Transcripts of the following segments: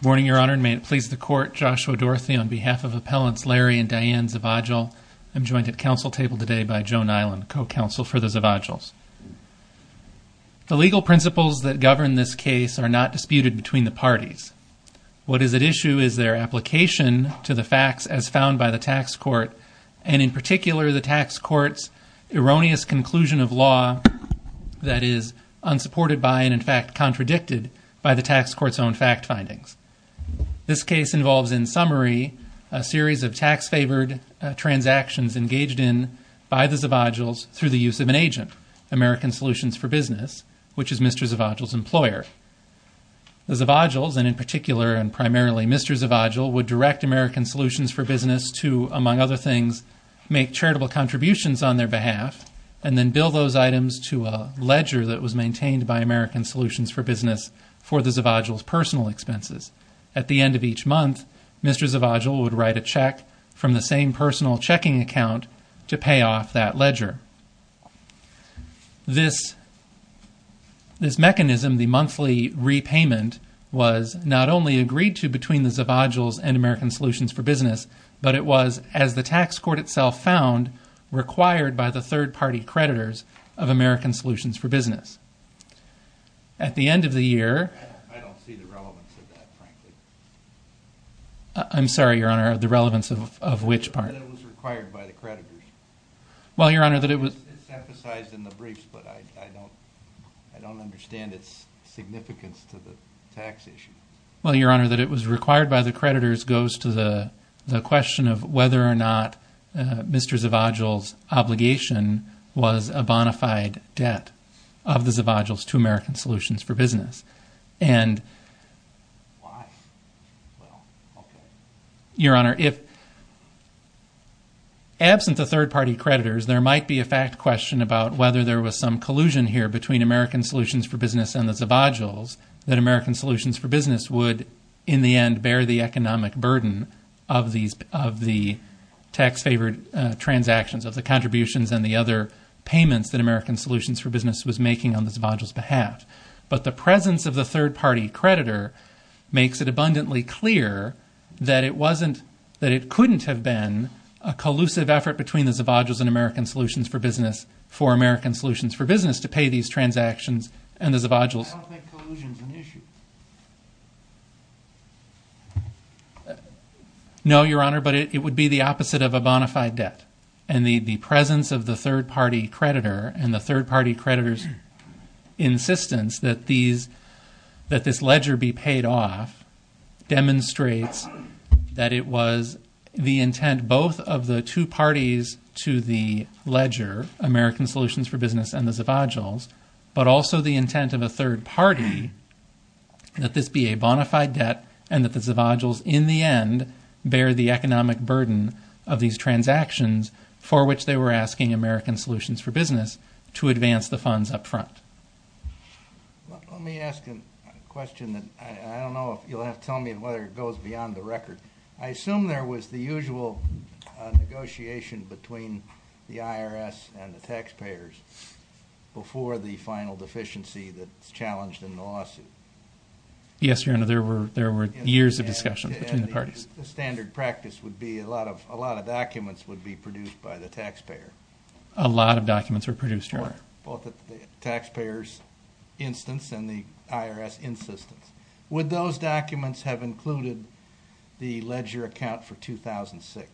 Warning, Your Honor, and may it please the Court, Joshua Dorothy, on behalf of Appellants Larry and Diane Zavadil, I'm joined at council table today by Joan Eiland, co-counsel for the Zavadils. The legal principles that govern this case are not disputed between the parties. What is at issue is their application to the facts as found by the tax court, and in particular, the tax court's erroneous conclusion of law that is unsupported by and, in fact, contradicted by the tax court's own fact findings. This case involves, in summary, a series of tax-favored transactions engaged in by the Zavadils through the use of an agent, American Solutions for Business, which is Mr. Zavadil's employer. The Zavadils, and in particular, and primarily Mr. Zavadil, would direct American Solutions for Business to, among other things, make charitable contributions on their behalf and then bill those items to a ledger that was maintained by American Solutions for Business for the Zavadil's personal expenses. At the end of each month, Mr. Zavadil would write a check from the same personal checking account to pay off that ledger. This mechanism, the monthly repayment, was not only agreed to between the Zavadils and American Solutions for Business, but it was, as the tax court itself found, required by the third-party creditors of American Solutions for Business. At the end of the year... I don't see the relevance of that, frankly. I'm sorry, Your Honor, the relevance of which part? That it was required by the creditors. Well, Your Honor, that it was... It's emphasized in the briefs, but I don't understand its significance to the tax issue. Well, Your Honor, that it was required by the creditors goes to the question of whether or not Mr. Zavadil's obligation was a bonafide debt of the Zavadil's to American Solutions for Business. And... Why? Well, okay. Your Honor, if... Absent the third-party creditors, there might be a fact question about whether there was some collusion here between American Solutions for Business and the Zavadils, that American Solutions for Business would, in the end, bear the economic burden of the tax-favored transactions, of the contributions and the other payments that American Solutions for Business would have. But the presence of the third-party creditor makes it abundantly clear that it wasn't... That it couldn't have been a collusive effort between the Zavadils and American Solutions for Business for American Solutions for Business to pay these transactions and the Zavadils. I don't think collusion's an issue. No, Your Honor, but it would be the opposite of a bonafide debt. And the presence of the third-party creditor and the third-party creditor's insistence that these... That this ledger be paid off demonstrates that it was the intent both of the two parties to the ledger, American Solutions for Business and the Zavadils, but also the intent of a third party that this be a bonafide debt and that the Zavadils, in the end, bear the economic transactions for which they were asking American Solutions for Business to advance the funds up front. Let me ask a question that I don't know if you'll have to tell me whether it goes beyond the record. I assume there was the usual negotiation between the IRS and the taxpayers before the final deficiency that's challenged in the lawsuit. The standard practice would be a lot of documents would be produced by the taxpayer. A lot of documents were produced, Your Honor. Both the taxpayers' instance and the IRS' insistence. Would those documents have included the ledger account for 2006?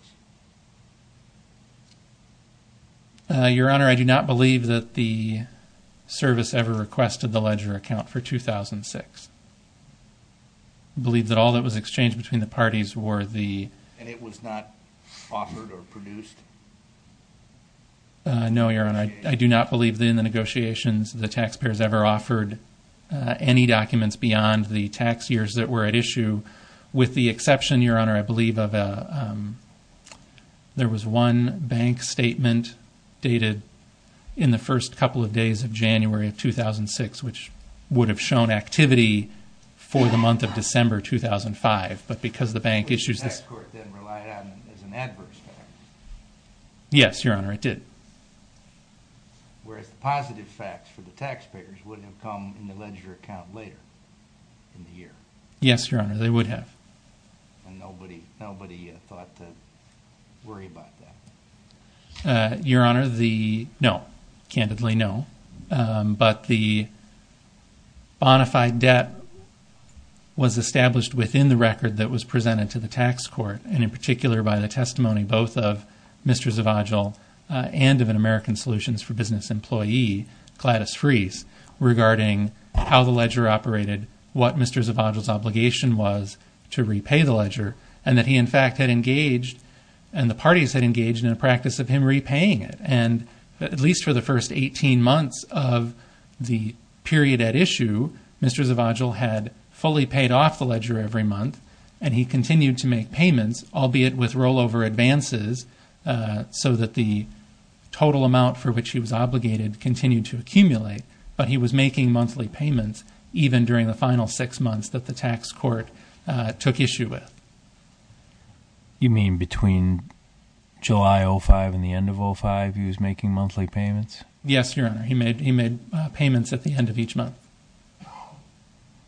Your Honor, I do not believe that the service ever requested the ledger account for 2006. I believe that all that was exchanged between the parties were the... And it was not offered or produced? No, Your Honor. I do not believe in the negotiations the taxpayers ever offered any documents beyond the tax years that were at issue, with the exception, Your Honor, I believe of a... there was one bank statement dated in the first couple of days of January of 2006, which would have shown activity for the month of December 2005, but because the bank issues... The tax court then relied on it as an adverse factor? Yes, Your Honor, it did. Whereas the positive facts for the taxpayers would have come in the ledger account later in the year? Yes, Your Honor, they would have. And nobody thought to worry about that? Your Honor, the... no. Candidly, no. But the bona fide debt was established within the record that was presented to the tax court, and in particular by the testimony both of Mr. Zavagil and of an American Solutions for Business employee, Gladys Freese, regarding how the ledger operated, what Mr. Zavagil's obligation was to repay the ledger, and that he in fact had engaged... and the parties had engaged in a practice of him repaying it. And at least for the first 18 months of the period at issue, Mr. Zavagil had fully paid off the ledger every month, and he continued to make payments, albeit with rollover advances, so that the total amount for which he was obligated continued to accumulate, but he was making monthly payments even during the final six months that the tax court took issue with. You mean between July 2005 and the end of 2005, he was making monthly payments? Yes, Your Honor. He made payments at the end of each month.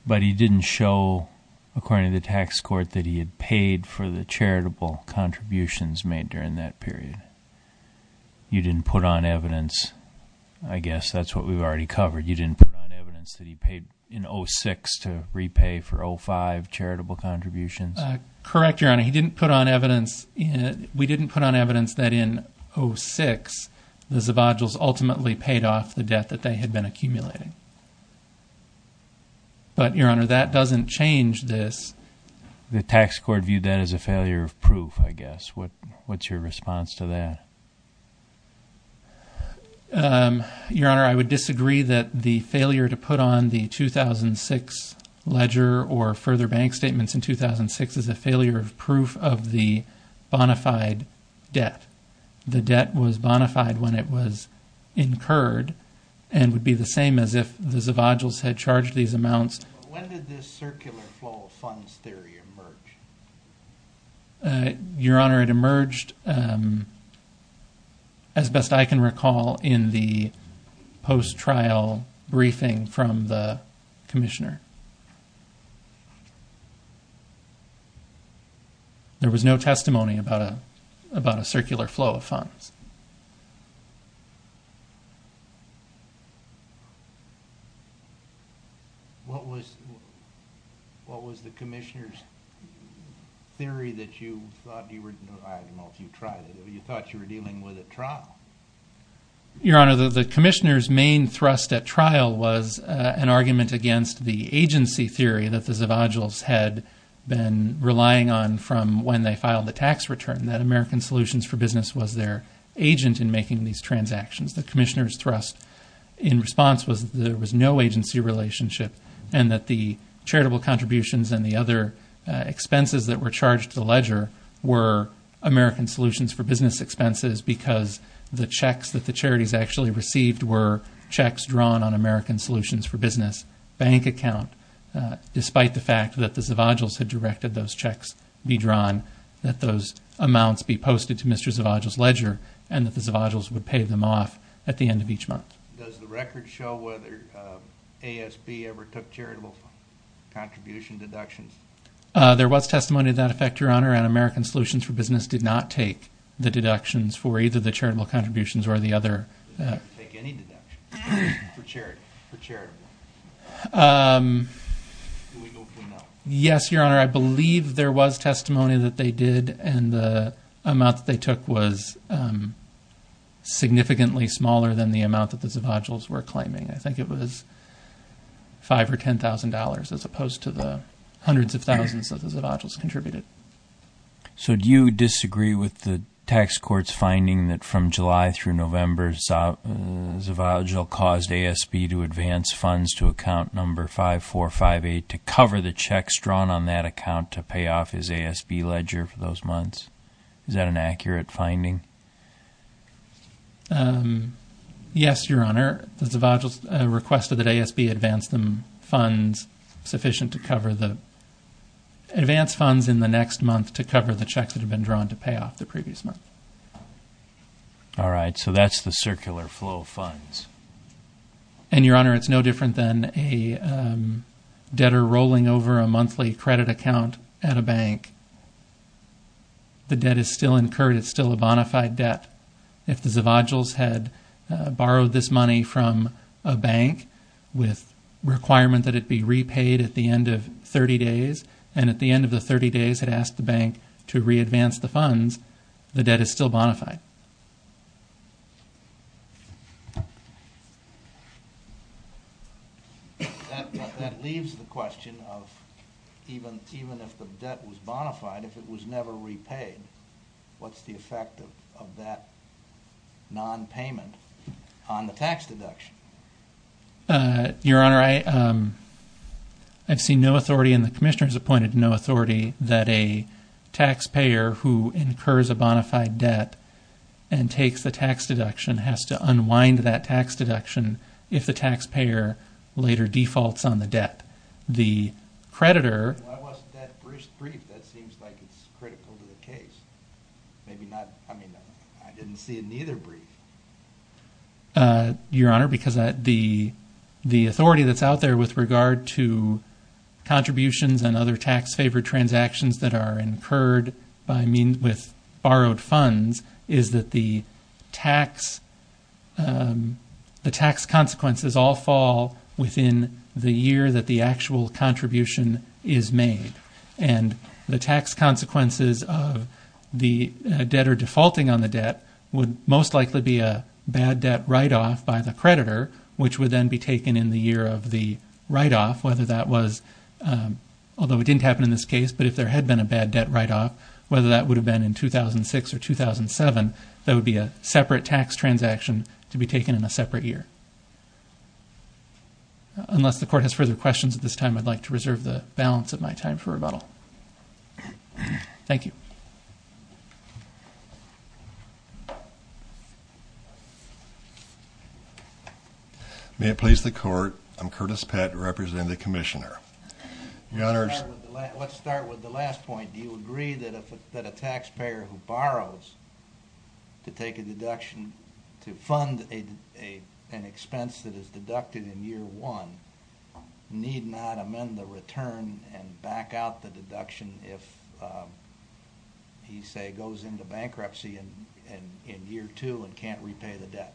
But he didn't show, according to the tax court, that he had paid for the charitable contributions made during that period? You didn't put on evidence... I guess that's what we've already covered. You didn't put on evidence that he paid in 2006 to repay for 2005 charitable contributions? Correct, Your Honor. He didn't put on evidence... we didn't put on evidence that in 2006, the Zavagils ultimately paid off the debt that they had been accumulating. But, Your Honor, that doesn't change this. The tax court viewed that as a failure of proof, I guess. What's your response to that? Your Honor, I would disagree that the failure to put on the 2006 ledger or further bank statements in 2006 is a failure of proof of the bonafide debt. The debt was bonafide when it was incurred and would be the same as if the Zavagils had charged these amounts. When did this circular flow of funds theory emerge? Your Honor, it emerged, as best I can recall, in the post-trial briefing from the commissioner. There was no testimony about a circular flow of funds. What was the commissioner's theory that you thought you were... I don't know if you tried it, but you thought you were dealing with a trial. Your Honor, the commissioner's main thrust at trial was an argument against the agency theory that the Zavagils had been relying on from when they filed the tax return, that there was no agent in making these transactions. The commissioner's thrust in response was that there was no agency relationship and that the charitable contributions and the other expenses that were charged to the ledger were American Solutions for Business expenses because the checks that the charities actually received were checks drawn on American Solutions for Business bank account. Despite the fact that the Zavagils had directed those checks be drawn, that those amounts be posted to Mr. Zavagil's ledger and that the Zavagils would pay them off at the end of each month. Does the record show whether ASB ever took charitable contribution deductions? There was testimony of that effect, Your Honor, and American Solutions for Business did not take the deductions for either the charitable contributions or the other... Did they take any deductions for charity, for charitable? Do we know for now? Yes, Your Honor. I believe there was testimony that they did and the amount that they took was significantly smaller than the amount that the Zavagils were claiming. I think it was $5,000 or $10,000 as opposed to the hundreds of thousands that the Zavagils contributed. Do you disagree with the tax court's finding that from July through November, Zavagil caused ASB to advance funds to account number 5458 to cover the checks drawn on that account to pay off his ASB ledger for those months? Is that an accurate finding? Yes, Your Honor. The Zavagils requested that ASB advance funds in the next month to cover the checks that had been drawn to pay off the previous month. All right. So that's the circular flow of funds. And, Your Honor, it's no different than a debtor rolling over a monthly credit account at a bank. The debt is still incurred. It's still a bonafide debt. If the Zavagils had borrowed this money from a bank with requirement that it be repaid at the end of 30 days and at the end of the 30 days had asked the bank to re-advance the That leaves the question of even if the debt was bonafide, if it was never repaid, what's the effect of that non-payment on the tax deduction? Your Honor, I've seen no authority and the Commissioner has appointed no authority that a taxpayer who incurs a bonafide debt and takes the tax deduction has to unwind that tax deduction if the taxpayer later defaults on the debt. Why wasn't that brief? That seems like it's critical to the case. I mean, I didn't see it in either brief. Your Honor, because the authority that's out there with regard to contributions and other tax-favored transactions that are incurred with borrowed funds is that the tax consequences all fall within the year that the actual contribution is made. And the tax consequences of the debtor defaulting on the debt would most likely be a bad debt write-off by the creditor, which would then be taken in the year of the write-off, whether that was, although it didn't happen in this case, but if there had been a bad debt write-off, whether that would have been in 2006 or 2007, that would be a separate tax transaction to be taken in a separate year. Unless the Court has further questions at this time, I'd like to reserve the balance of my time for rebuttal. Thank you. May it please the Court, I'm Curtis Pett, representing the Commissioner. Let's start with the last point. Do you agree that a taxpayer who borrows to take a deduction to fund an expense that is goes into bankruptcy in year two and can't repay the debt?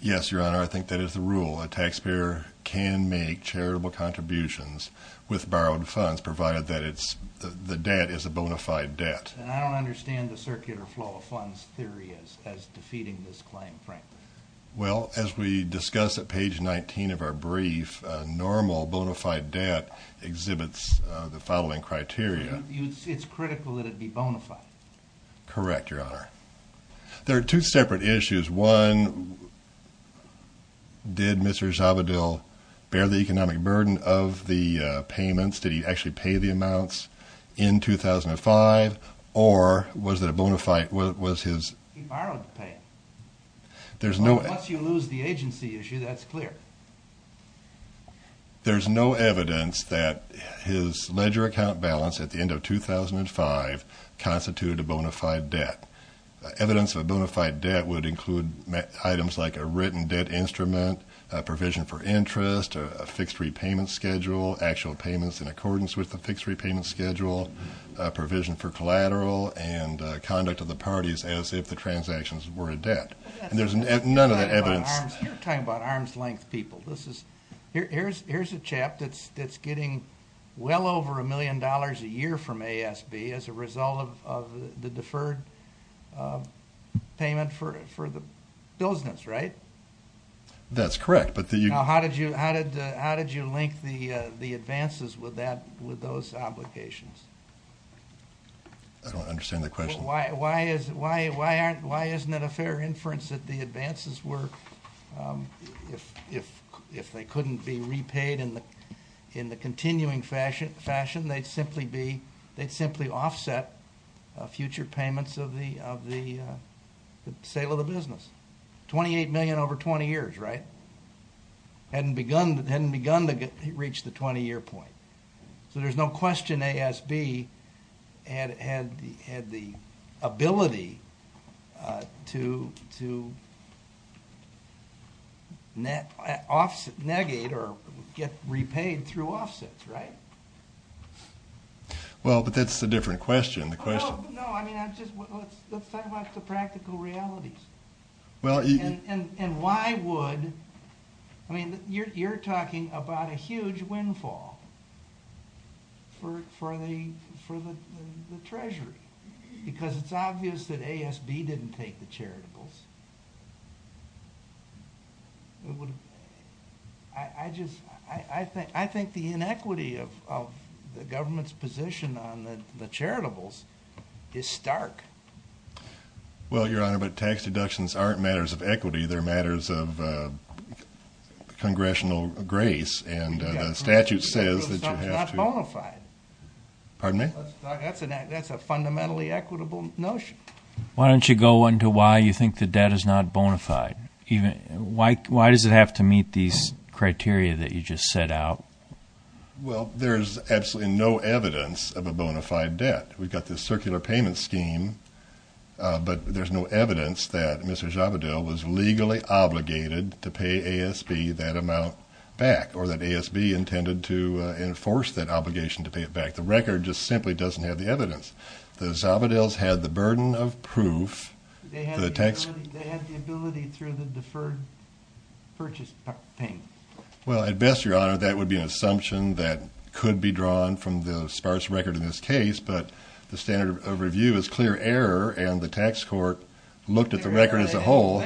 Yes, Your Honor, I think that is the rule. A taxpayer can make charitable contributions with borrowed funds, provided that the debt is a bona fide debt. And I don't understand the circular flow of funds theory as defeating this claim, frankly. Well, as we discuss at page 19 of our brief, normal bona fide debt exhibits the following Correct, Your Honor. There are two separate issues. One, did Mr. Zabadil bear the economic burden of the payments? Did he actually pay the amounts in 2005? Or was it a bona fide? He borrowed to pay it. Unless you lose the agency issue, that's clear. There's no evidence that his ledger account balance at the end of 2005 constituted a bona fide debt. Evidence of a bona fide debt would include items like a written debt instrument, a provision for interest, a fixed repayment schedule, actual payments in accordance with the fixed repayment schedule, a provision for collateral, and conduct of the parties as if the transactions were a debt. There's none of that evidence. You're talking about arm's length people. Here's a chap that's getting well over a million dollars a year from ASB as a result of the deferred payment for the business, right? That's correct. Now, how did you link the advances with those obligations? I don't understand the question. Why isn't it a fair inference that the advances were, if they couldn't be repaid in the continuing fashion, they'd simply offset future payments of the sale of the business? $28 million over 20 years, right? Hadn't begun to reach the 20-year point. So there's no question ASB had the ability to negate or get repaid through offsets, right? Well, but that's a different question. No, I mean, let's talk about the practical realities. And why would, I mean, you're talking about a huge windfall for the Treasury because it's obvious that ASB didn't take the charitables. I think the inequity of the government's position on the charitables is stark. Well, Your Honor, but tax deductions aren't matters of equity. They're matters of congressional grace. And the statute says that you have to— Charitables are not bona fide. Pardon me? That's a fundamentally equitable notion. Why don't you go into why you think the debt is not bona fide? Why does it have to meet these criteria that you just set out? Well, there's absolutely no evidence of a bona fide debt. We've got this circular payment scheme, but there's no evidence that Mr. Zabedel was legally obligated to pay ASB that amount back or that ASB intended to enforce that obligation to pay it back. The record just simply doesn't have the evidence. The Zabedels had the burden of proof. They had the ability through the deferred purchase payment. Well, at best, Your Honor, that would be an assumption that could be drawn from the sparse record in this case, but the standard of review is clear error, and the tax court looked at the record as a whole.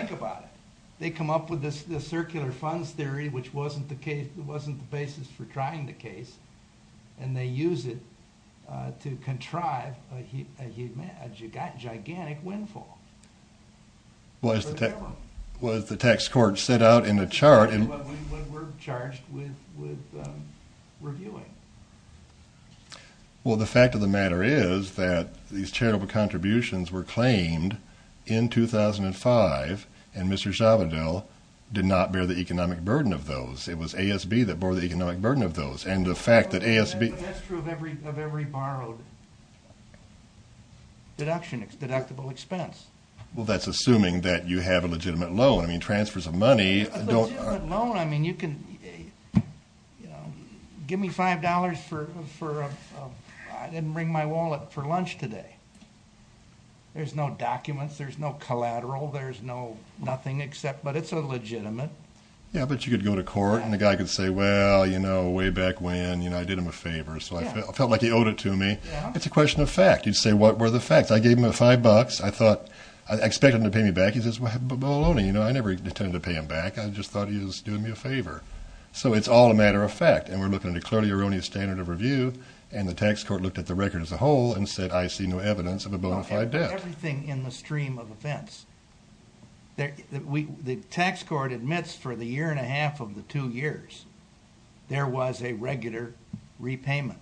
They come up with this circular funds theory, which wasn't the basis for trying the case, and they use it to contrive a gigantic windfall. Well, as the tax court set out in the chart— We're charged with reviewing. Well, the fact of the matter is that these charitable contributions were claimed in 2005, and Mr. Zabedel did not bear the economic burden of those. It was ASB that bore the economic burden of those, and the fact that ASB— That's true of every borrowed deductible expense. Well, that's assuming that you have a legitimate loan. I mean, transfers of money don't— Give me $5 for—I didn't bring my wallet for lunch today. There's no documents. There's no collateral. There's nothing except—but it's a legitimate. Yeah, but you could go to court, and the guy could say, Well, you know, way back when, I did him a favor, so I felt like he owed it to me. It's a question of fact. You'd say, What were the facts? I gave him $5. I thought—I expected him to pay me back. He says, Well, I never intended to pay him back. I just thought he was doing me a favor. So it's all a matter of fact, and we're looking at a clearly erroneous standard of review, and the tax court looked at the record as a whole and said, I see no evidence of a bona fide debt. Everything in the stream of offense. The tax court admits for the year and a half of the two years, there was a regular repayment,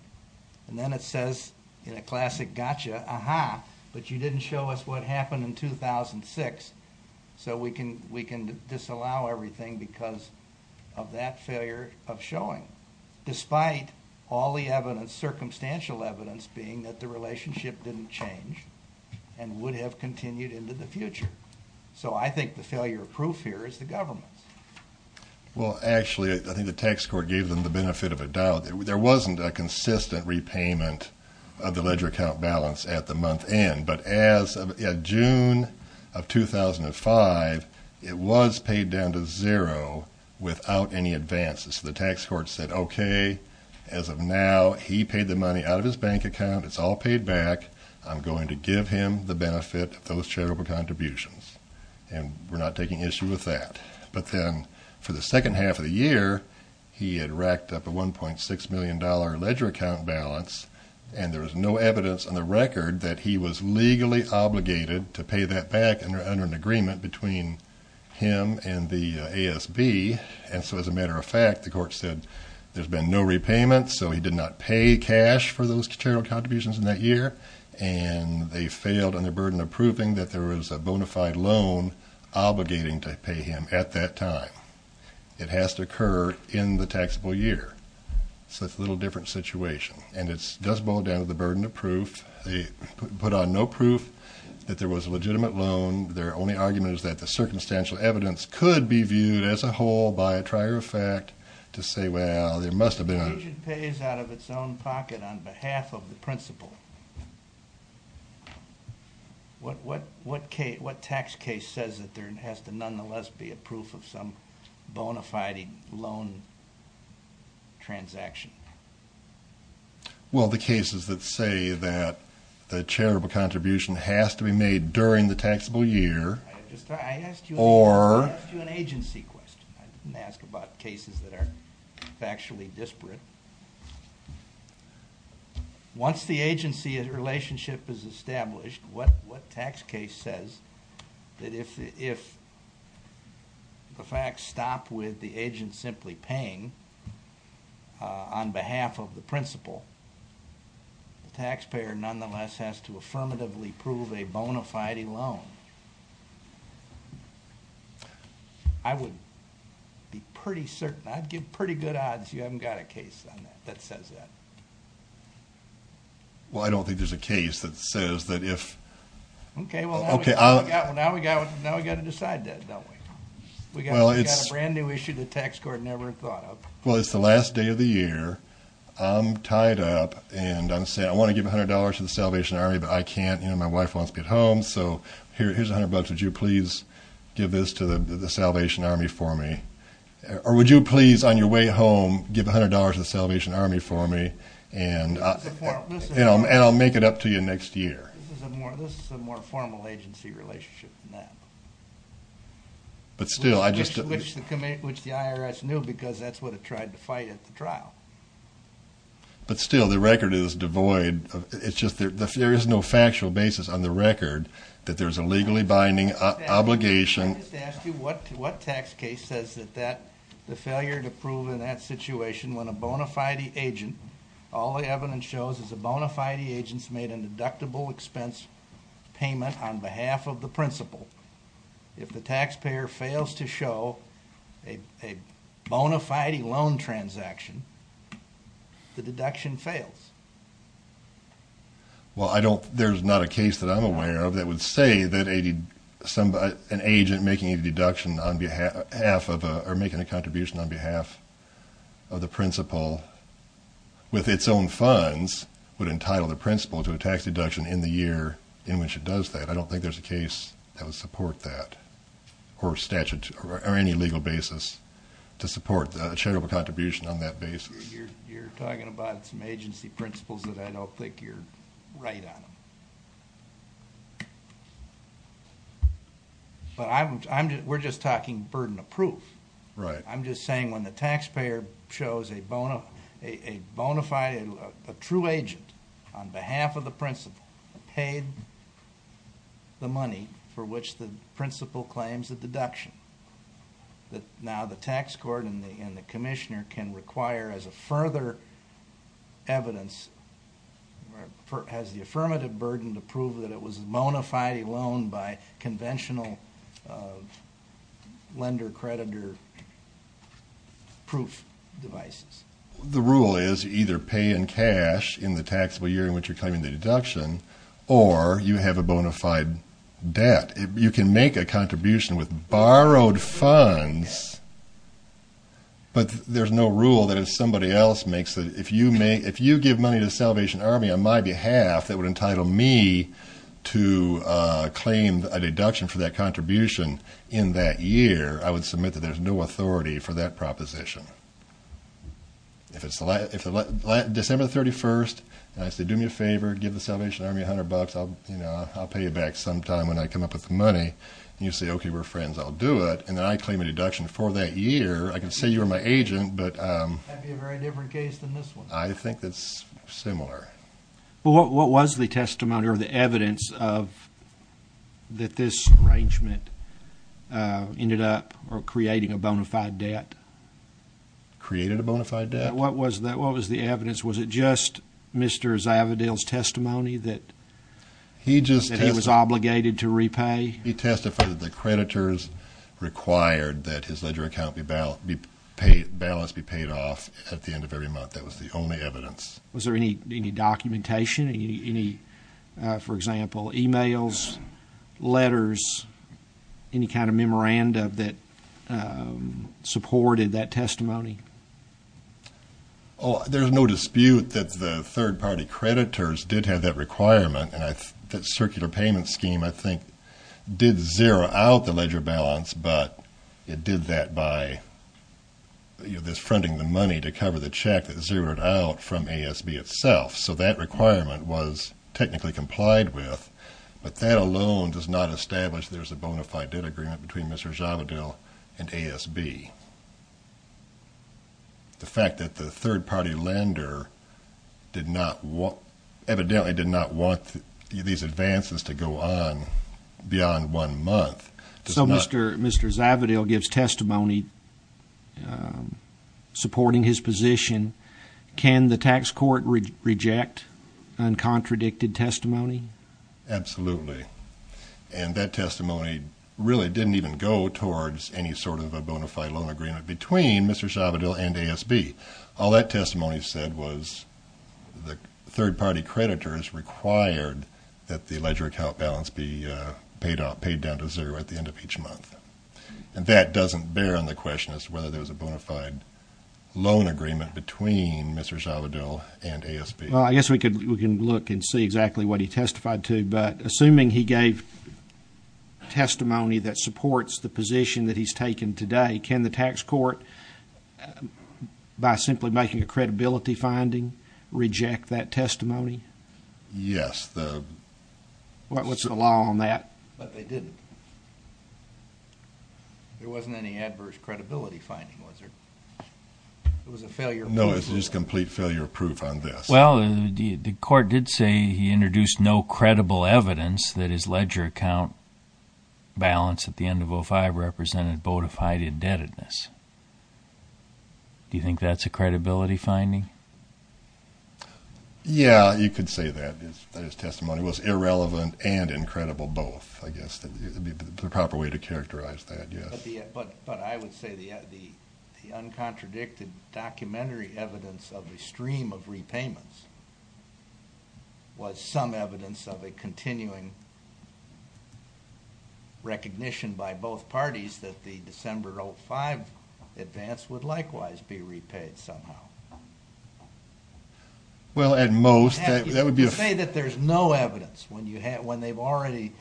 and then it says in a classic gotcha, Aha, but you didn't show us what happened in 2006, so we can disallow everything because of that failure of showing, despite all the circumstantial evidence being that the relationship didn't change and would have continued into the future. So I think the failure of proof here is the government's. Well, actually, I think the tax court gave them the benefit of a doubt. There wasn't a consistent repayment of the ledger account balance at the month end, but as of June of 2005, it was paid down to zero without any advances. The tax court said, OK, as of now, he paid the money out of his bank account. It's all paid back. I'm going to give him the benefit of those charitable contributions, and we're not taking issue with that. But then for the second half of the year, he had racked up a $1.6 million ledger account balance, and there was no evidence on the record that he was legally obligated to pay that back under an agreement between him and the ASB. And so as a matter of fact, the court said there's been no repayment, so he did not pay cash for those charitable contributions in that year, and they failed on their burden of proving that there was a bona fide loan obligating to pay him at that time. It has to occur in the taxable year. So it's a little different situation. And it does boil down to the burden of proof. They put on no proof that there was a legitimate loan. Their only argument is that the circumstantial evidence could be viewed as a whole by a trier of fact to say, well, there must have been a loan. The region pays out of its own pocket on behalf of the principal. What tax case says that there has to nonetheless be a proof of some bona fide loan transaction? Well, the cases that say that the charitable contribution has to be made during the taxable year. I asked you an agency question. I didn't ask about cases that are factually disparate. Once the agency relationship is established, what tax case says that if the facts stop with the agent simply paying on behalf of the principal, the taxpayer nonetheless has to affirmatively prove a bona fide loan? I would be pretty certain. I'd give pretty good odds you haven't got a case on that that says that. Well, I don't think there's a case that says that if... Okay, well, now we've got to decide that, don't we? We've got a brand new issue the tax court never thought of. Well, it's the last day of the year. I'm tied up, and I'm saying I want to give $100 to the Salvation Army, but I can't. My wife wants me at home, so here's $100. Would you please give this to the Salvation Army for me? Or would you please, on your way home, give $100 to the Salvation Army for me, and I'll make it up to you next year? This is a more formal agency relationship than that, which the IRS knew because that's what it tried to fight at the trial. But still, the record is devoid. There is no factual basis on the record that there's a legally binding obligation. Let me just ask you, what tax case says that the failure to prove in that situation when a bona fide agent... All the evidence shows is a bona fide agent's made a deductible expense payment on behalf of the principal. If the taxpayer fails to show a bona fide loan transaction, the deduction fails. Well, I don't... there's not a case that I'm aware of that would say that an agent making a deduction on behalf... half of a... or making a contribution on behalf of the principal with its own funds... would entitle the principal to a tax deduction in the year in which it does that. I don't think there's a case that would support that. Or statute... or any legal basis to support the charitable contribution on that basis. You're talking about some agency principles that I don't think you're right on. But I'm... we're just talking burden of proof. Right. I'm just saying when the taxpayer shows a bona fide... a true agent on behalf of the principal... paid the money for which the principal claims a deduction... that now the tax court and the commissioner can require as a further evidence... proof devices. The rule is either pay in cash in the taxable year in which you're claiming the deduction... or you have a bona fide debt. You can make a contribution with borrowed funds... but there's no rule that if somebody else makes a... if you give money to Salvation Army on my behalf... that would entitle me to claim a deduction for that contribution in that year... I would submit that there's no authority for that proposition. If it's the last... if it's December 31st... and I say, do me a favor, give the Salvation Army a hundred bucks... I'll pay you back sometime when I come up with the money... and you say, okay, we're friends, I'll do it... and then I claim a deduction for that year... I can say you were my agent, but... That would be a very different case than this one. I think it's similar. Well, what was the testimony or the evidence of... that this arrangement ended up creating a bona fide debt? Created a bona fide debt? What was the evidence? Was it just Mr. Zavadil's testimony that he was obligated to repay? He testified that the creditors required that his ledger account be balanced... be paid off at the end of every month. That was the only evidence. Was there any documentation? Any, for example, e-mails, letters, any kind of memoranda that supported that testimony? Oh, there's no dispute that the third party creditors did have that requirement... and that circular payment scheme, I think, did zero out the ledger balance... So, that requirement was technically complied with, but that alone does not establish... there's a bona fide debt agreement between Mr. Zavadil and ASB. The fact that the third party lender did not want... evidently did not want these advances to go on beyond one month... So, Mr. Zavadil gives testimony supporting his position. Can the tax court reject uncontradicted testimony? Absolutely. And, that testimony really didn't even go towards any sort of a bona fide loan agreement... between Mr. Zavadil and ASB. All that testimony said was the third party creditors required... that the ledger account balance be paid down to zero at the end of each month. And, that doesn't bear on the question as to whether there's a bona fide loan agreement... between Mr. Zavadil and ASB. Well, I guess we can look and see exactly what he testified to. But, assuming he gave testimony that supports the position that he's taken today... can the tax court, by simply making a credibility finding, reject that testimony? Yes, the... What's the law on that? But, they didn't. There wasn't any adverse credibility finding, was there? It was a failure... No, it's just complete failure proof on this. Well, the court did say he introduced no credible evidence... that his ledger account balance at the end of 05 represented bona fide indebtedness. Do you think that's a credibility finding? Yeah, you could say that. That his testimony was irrelevant and incredible, both. I guess that would be the proper way to characterize that, yes. But, I would say the uncontradicted documentary evidence of a stream of repayments... was some evidence of a continuing recognition by both parties... that the December 05 advance would likewise be repaid, somehow. Well, at most... You say that there's no evidence when they've already...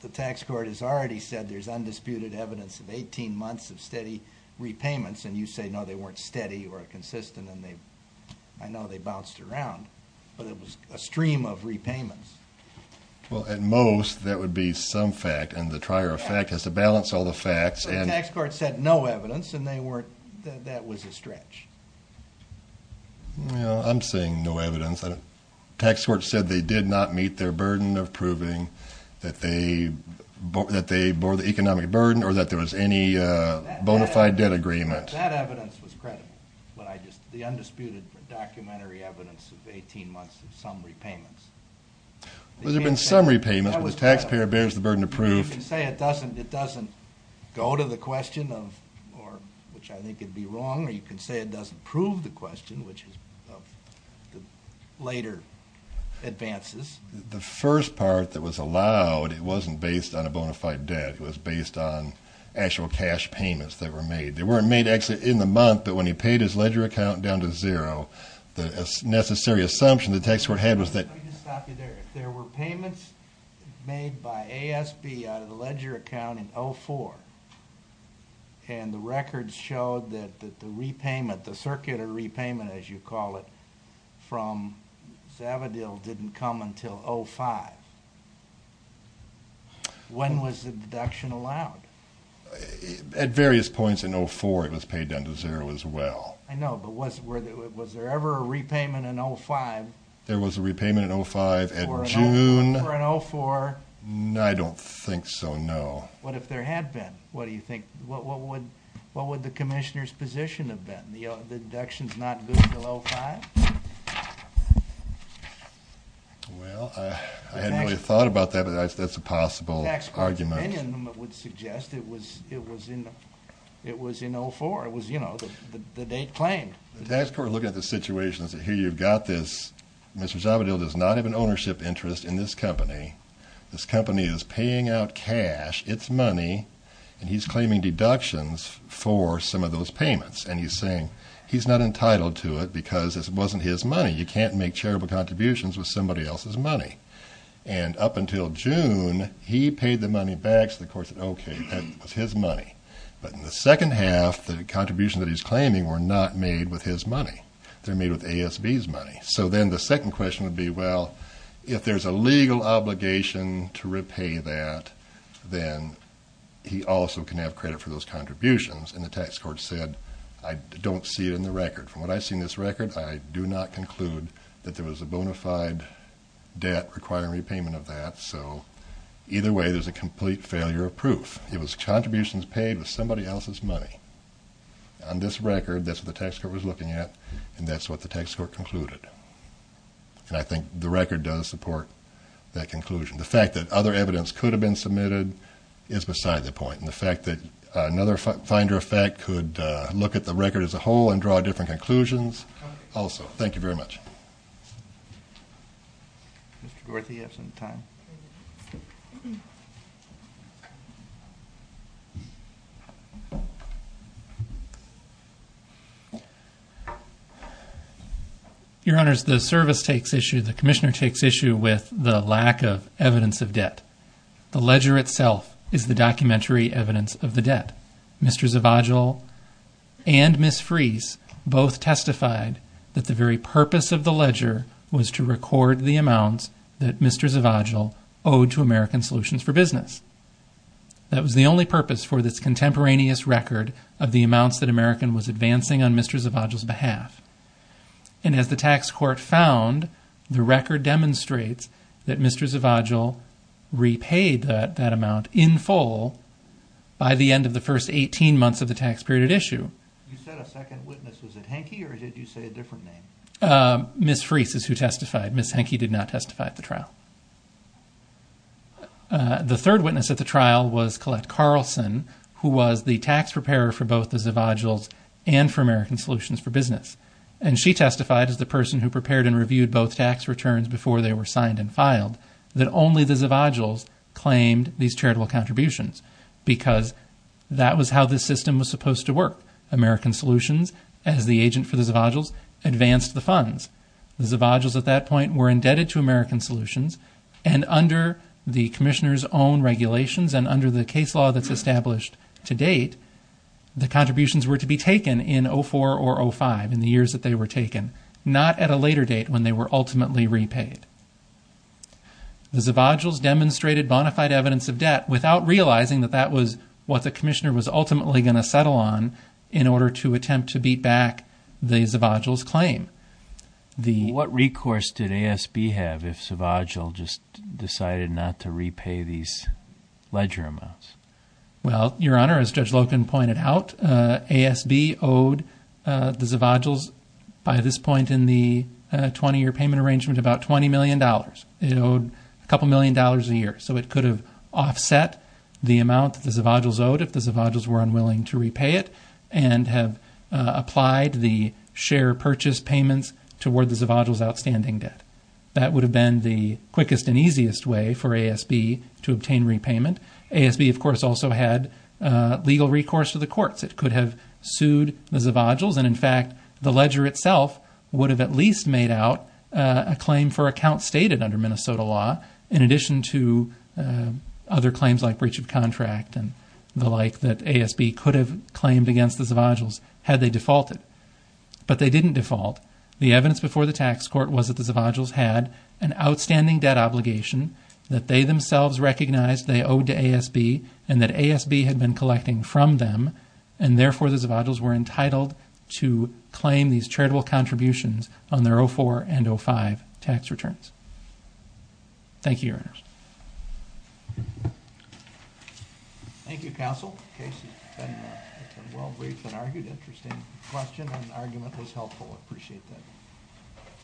the tax court has already said there's undisputed evidence of 18 months of steady repayments... and you say, no, they weren't steady or consistent and they... I know they bounced around, but it was a stream of repayments. Well, at most, that would be some fact and the trier of fact has to balance all the facts and... The tax court said no evidence and they weren't... that was a stretch. Well, I'm saying no evidence. The tax court said they did not meet their burden of proving that they bore the economic burden... or that there was any bona fide debt agreement. That evidence was credible, but I just... the undisputed documentary evidence of 18 months of some repayments... Well, there have been some repayments, but the taxpayer bears the burden of proof. You can say it doesn't go to the question of... which I think would be wrong or you can say it doesn't prove the question, which is of the later advances. The first part that was allowed, it wasn't based on a bona fide debt. It was based on actual cash payments that were made. They weren't made actually in the month, but when he paid his ledger account down to zero... the necessary assumption the tax court had was that... Let me just stop you there. There were payments made by ASB out of the ledger account in 2004... and the records showed that the repayment, the circular repayment as you call it... from Zavadil didn't come until 2005. When was the deduction allowed? At various points in 2004, it was paid down to zero as well. I know, but was there ever a repayment in 2005? There was a repayment in 2005 in June... Or in 2004? I don't think so, no. What if there had been? What do you think? What would the Commissioner's position have been? The deduction's not good until 2005? Well, I hadn't really thought about that, but that's a possible argument. The tax court's opinion would suggest it was in 2004. It was, you know, the date claimed. The tax court is looking at the situation and says, here you've got this... Mr. Zavadil does not have an ownership interest in this company. This company is paying out cash. It's money. And, he's claiming deductions for some of those payments. And, he's saying he's not entitled to it because it wasn't his money. You can't make charitable contributions with somebody else's money. And, up until June, he paid the money back. So, the court said, okay, that was his money. But, in the second half, the contributions that he's claiming were not made with his money. They're made with ASB's money. So, then the second question would be, well, if there's a legal obligation to repay that, then he also can have credit for those contributions. And, the tax court said, I don't see it in the record. From what I've seen in this record, I do not conclude that there was a bona fide debt requiring repayment of that. So, either way, there's a complete failure of proof. It was contributions paid with somebody else's money. On this record, that's what the tax court was looking at. And, that's what the tax court concluded. And, I think the record does support that conclusion. The fact that other evidence could have been submitted is beside the point. And, the fact that another finder of fact could look at the record as a whole and draw different conclusions also. Thank you very much. Mr. Dorothy, do you have some time? Your Honors, the service takes issue, the commissioner takes issue with the lack of evidence of debt. The ledger itself is the documentary evidence of the debt. Mr. Zavagil and Ms. Fries both testified that the very purpose of the ledger was to record the amounts that Mr. Zavagil owed to American Solutions for Business. That was the only purpose for this contemporaneous record of the amounts that American was advancing on Mr. Zavagil's behalf. And, as the tax court found, the record demonstrates that Mr. Zavagil repaid that amount in full by the end of the first 18 months of the tax period at issue. You said a second witness. Was it Henke, or did you say a different name? Ms. Fries is who testified. Ms. Henke did not testify at the trial. The third witness at the trial was Collette Carlson, who was the tax preparer for both the Zavagils and for American Solutions for Business. And she testified as the person who prepared and reviewed both tax returns before they were signed and filed, that only the Zavagils claimed these charitable contributions because that was how the system was supposed to work. American Solutions, as the agent for the Zavagils, advanced the funds. The Zavagils, at that point, were indebted to American Solutions. And under the commissioner's own regulations and under the case law that's established to date, the contributions were to be taken in 2004 or 2005, in the years that they were taken, not at a later date when they were ultimately repaid. The Zavagils demonstrated bona fide evidence of debt without realizing that that was what the commissioner was ultimately going to settle on in order to attempt to beat back the Zavagil's claim. What recourse did ASB have if Zavagil just decided not to repay these ledger amounts? Well, Your Honor, as Judge Loken pointed out, ASB owed the Zavagils, by this point in the 20-year payment arrangement, about $20 million. It owed a couple million dollars a year. So it could have offset the amount that the Zavagils owed if the Zavagils were unwilling to repay it and have applied the share purchase payments toward the Zavagil's outstanding debt. That would have been the quickest and easiest way for ASB to obtain repayment. ASB, of course, also had legal recourse to the courts. It could have sued the Zavagils. And, in fact, the ledger itself would have at least made out a claim for account stated under Minnesota law in addition to other claims like breach of contract and the like that ASB could have claimed against the Zavagils had they defaulted. But they didn't default. The evidence before the tax court was that the Zavagils had an outstanding debt obligation that they themselves recognized they owed to ASB and that ASB had been collecting from them. And, therefore, the Zavagils were entitled to claim these charitable contributions on their 04 and 05 tax returns. Thank you, Your Honors. Thank you, Counsel. Case has been well briefed and argued. Interesting question and argument was helpful. I appreciate that.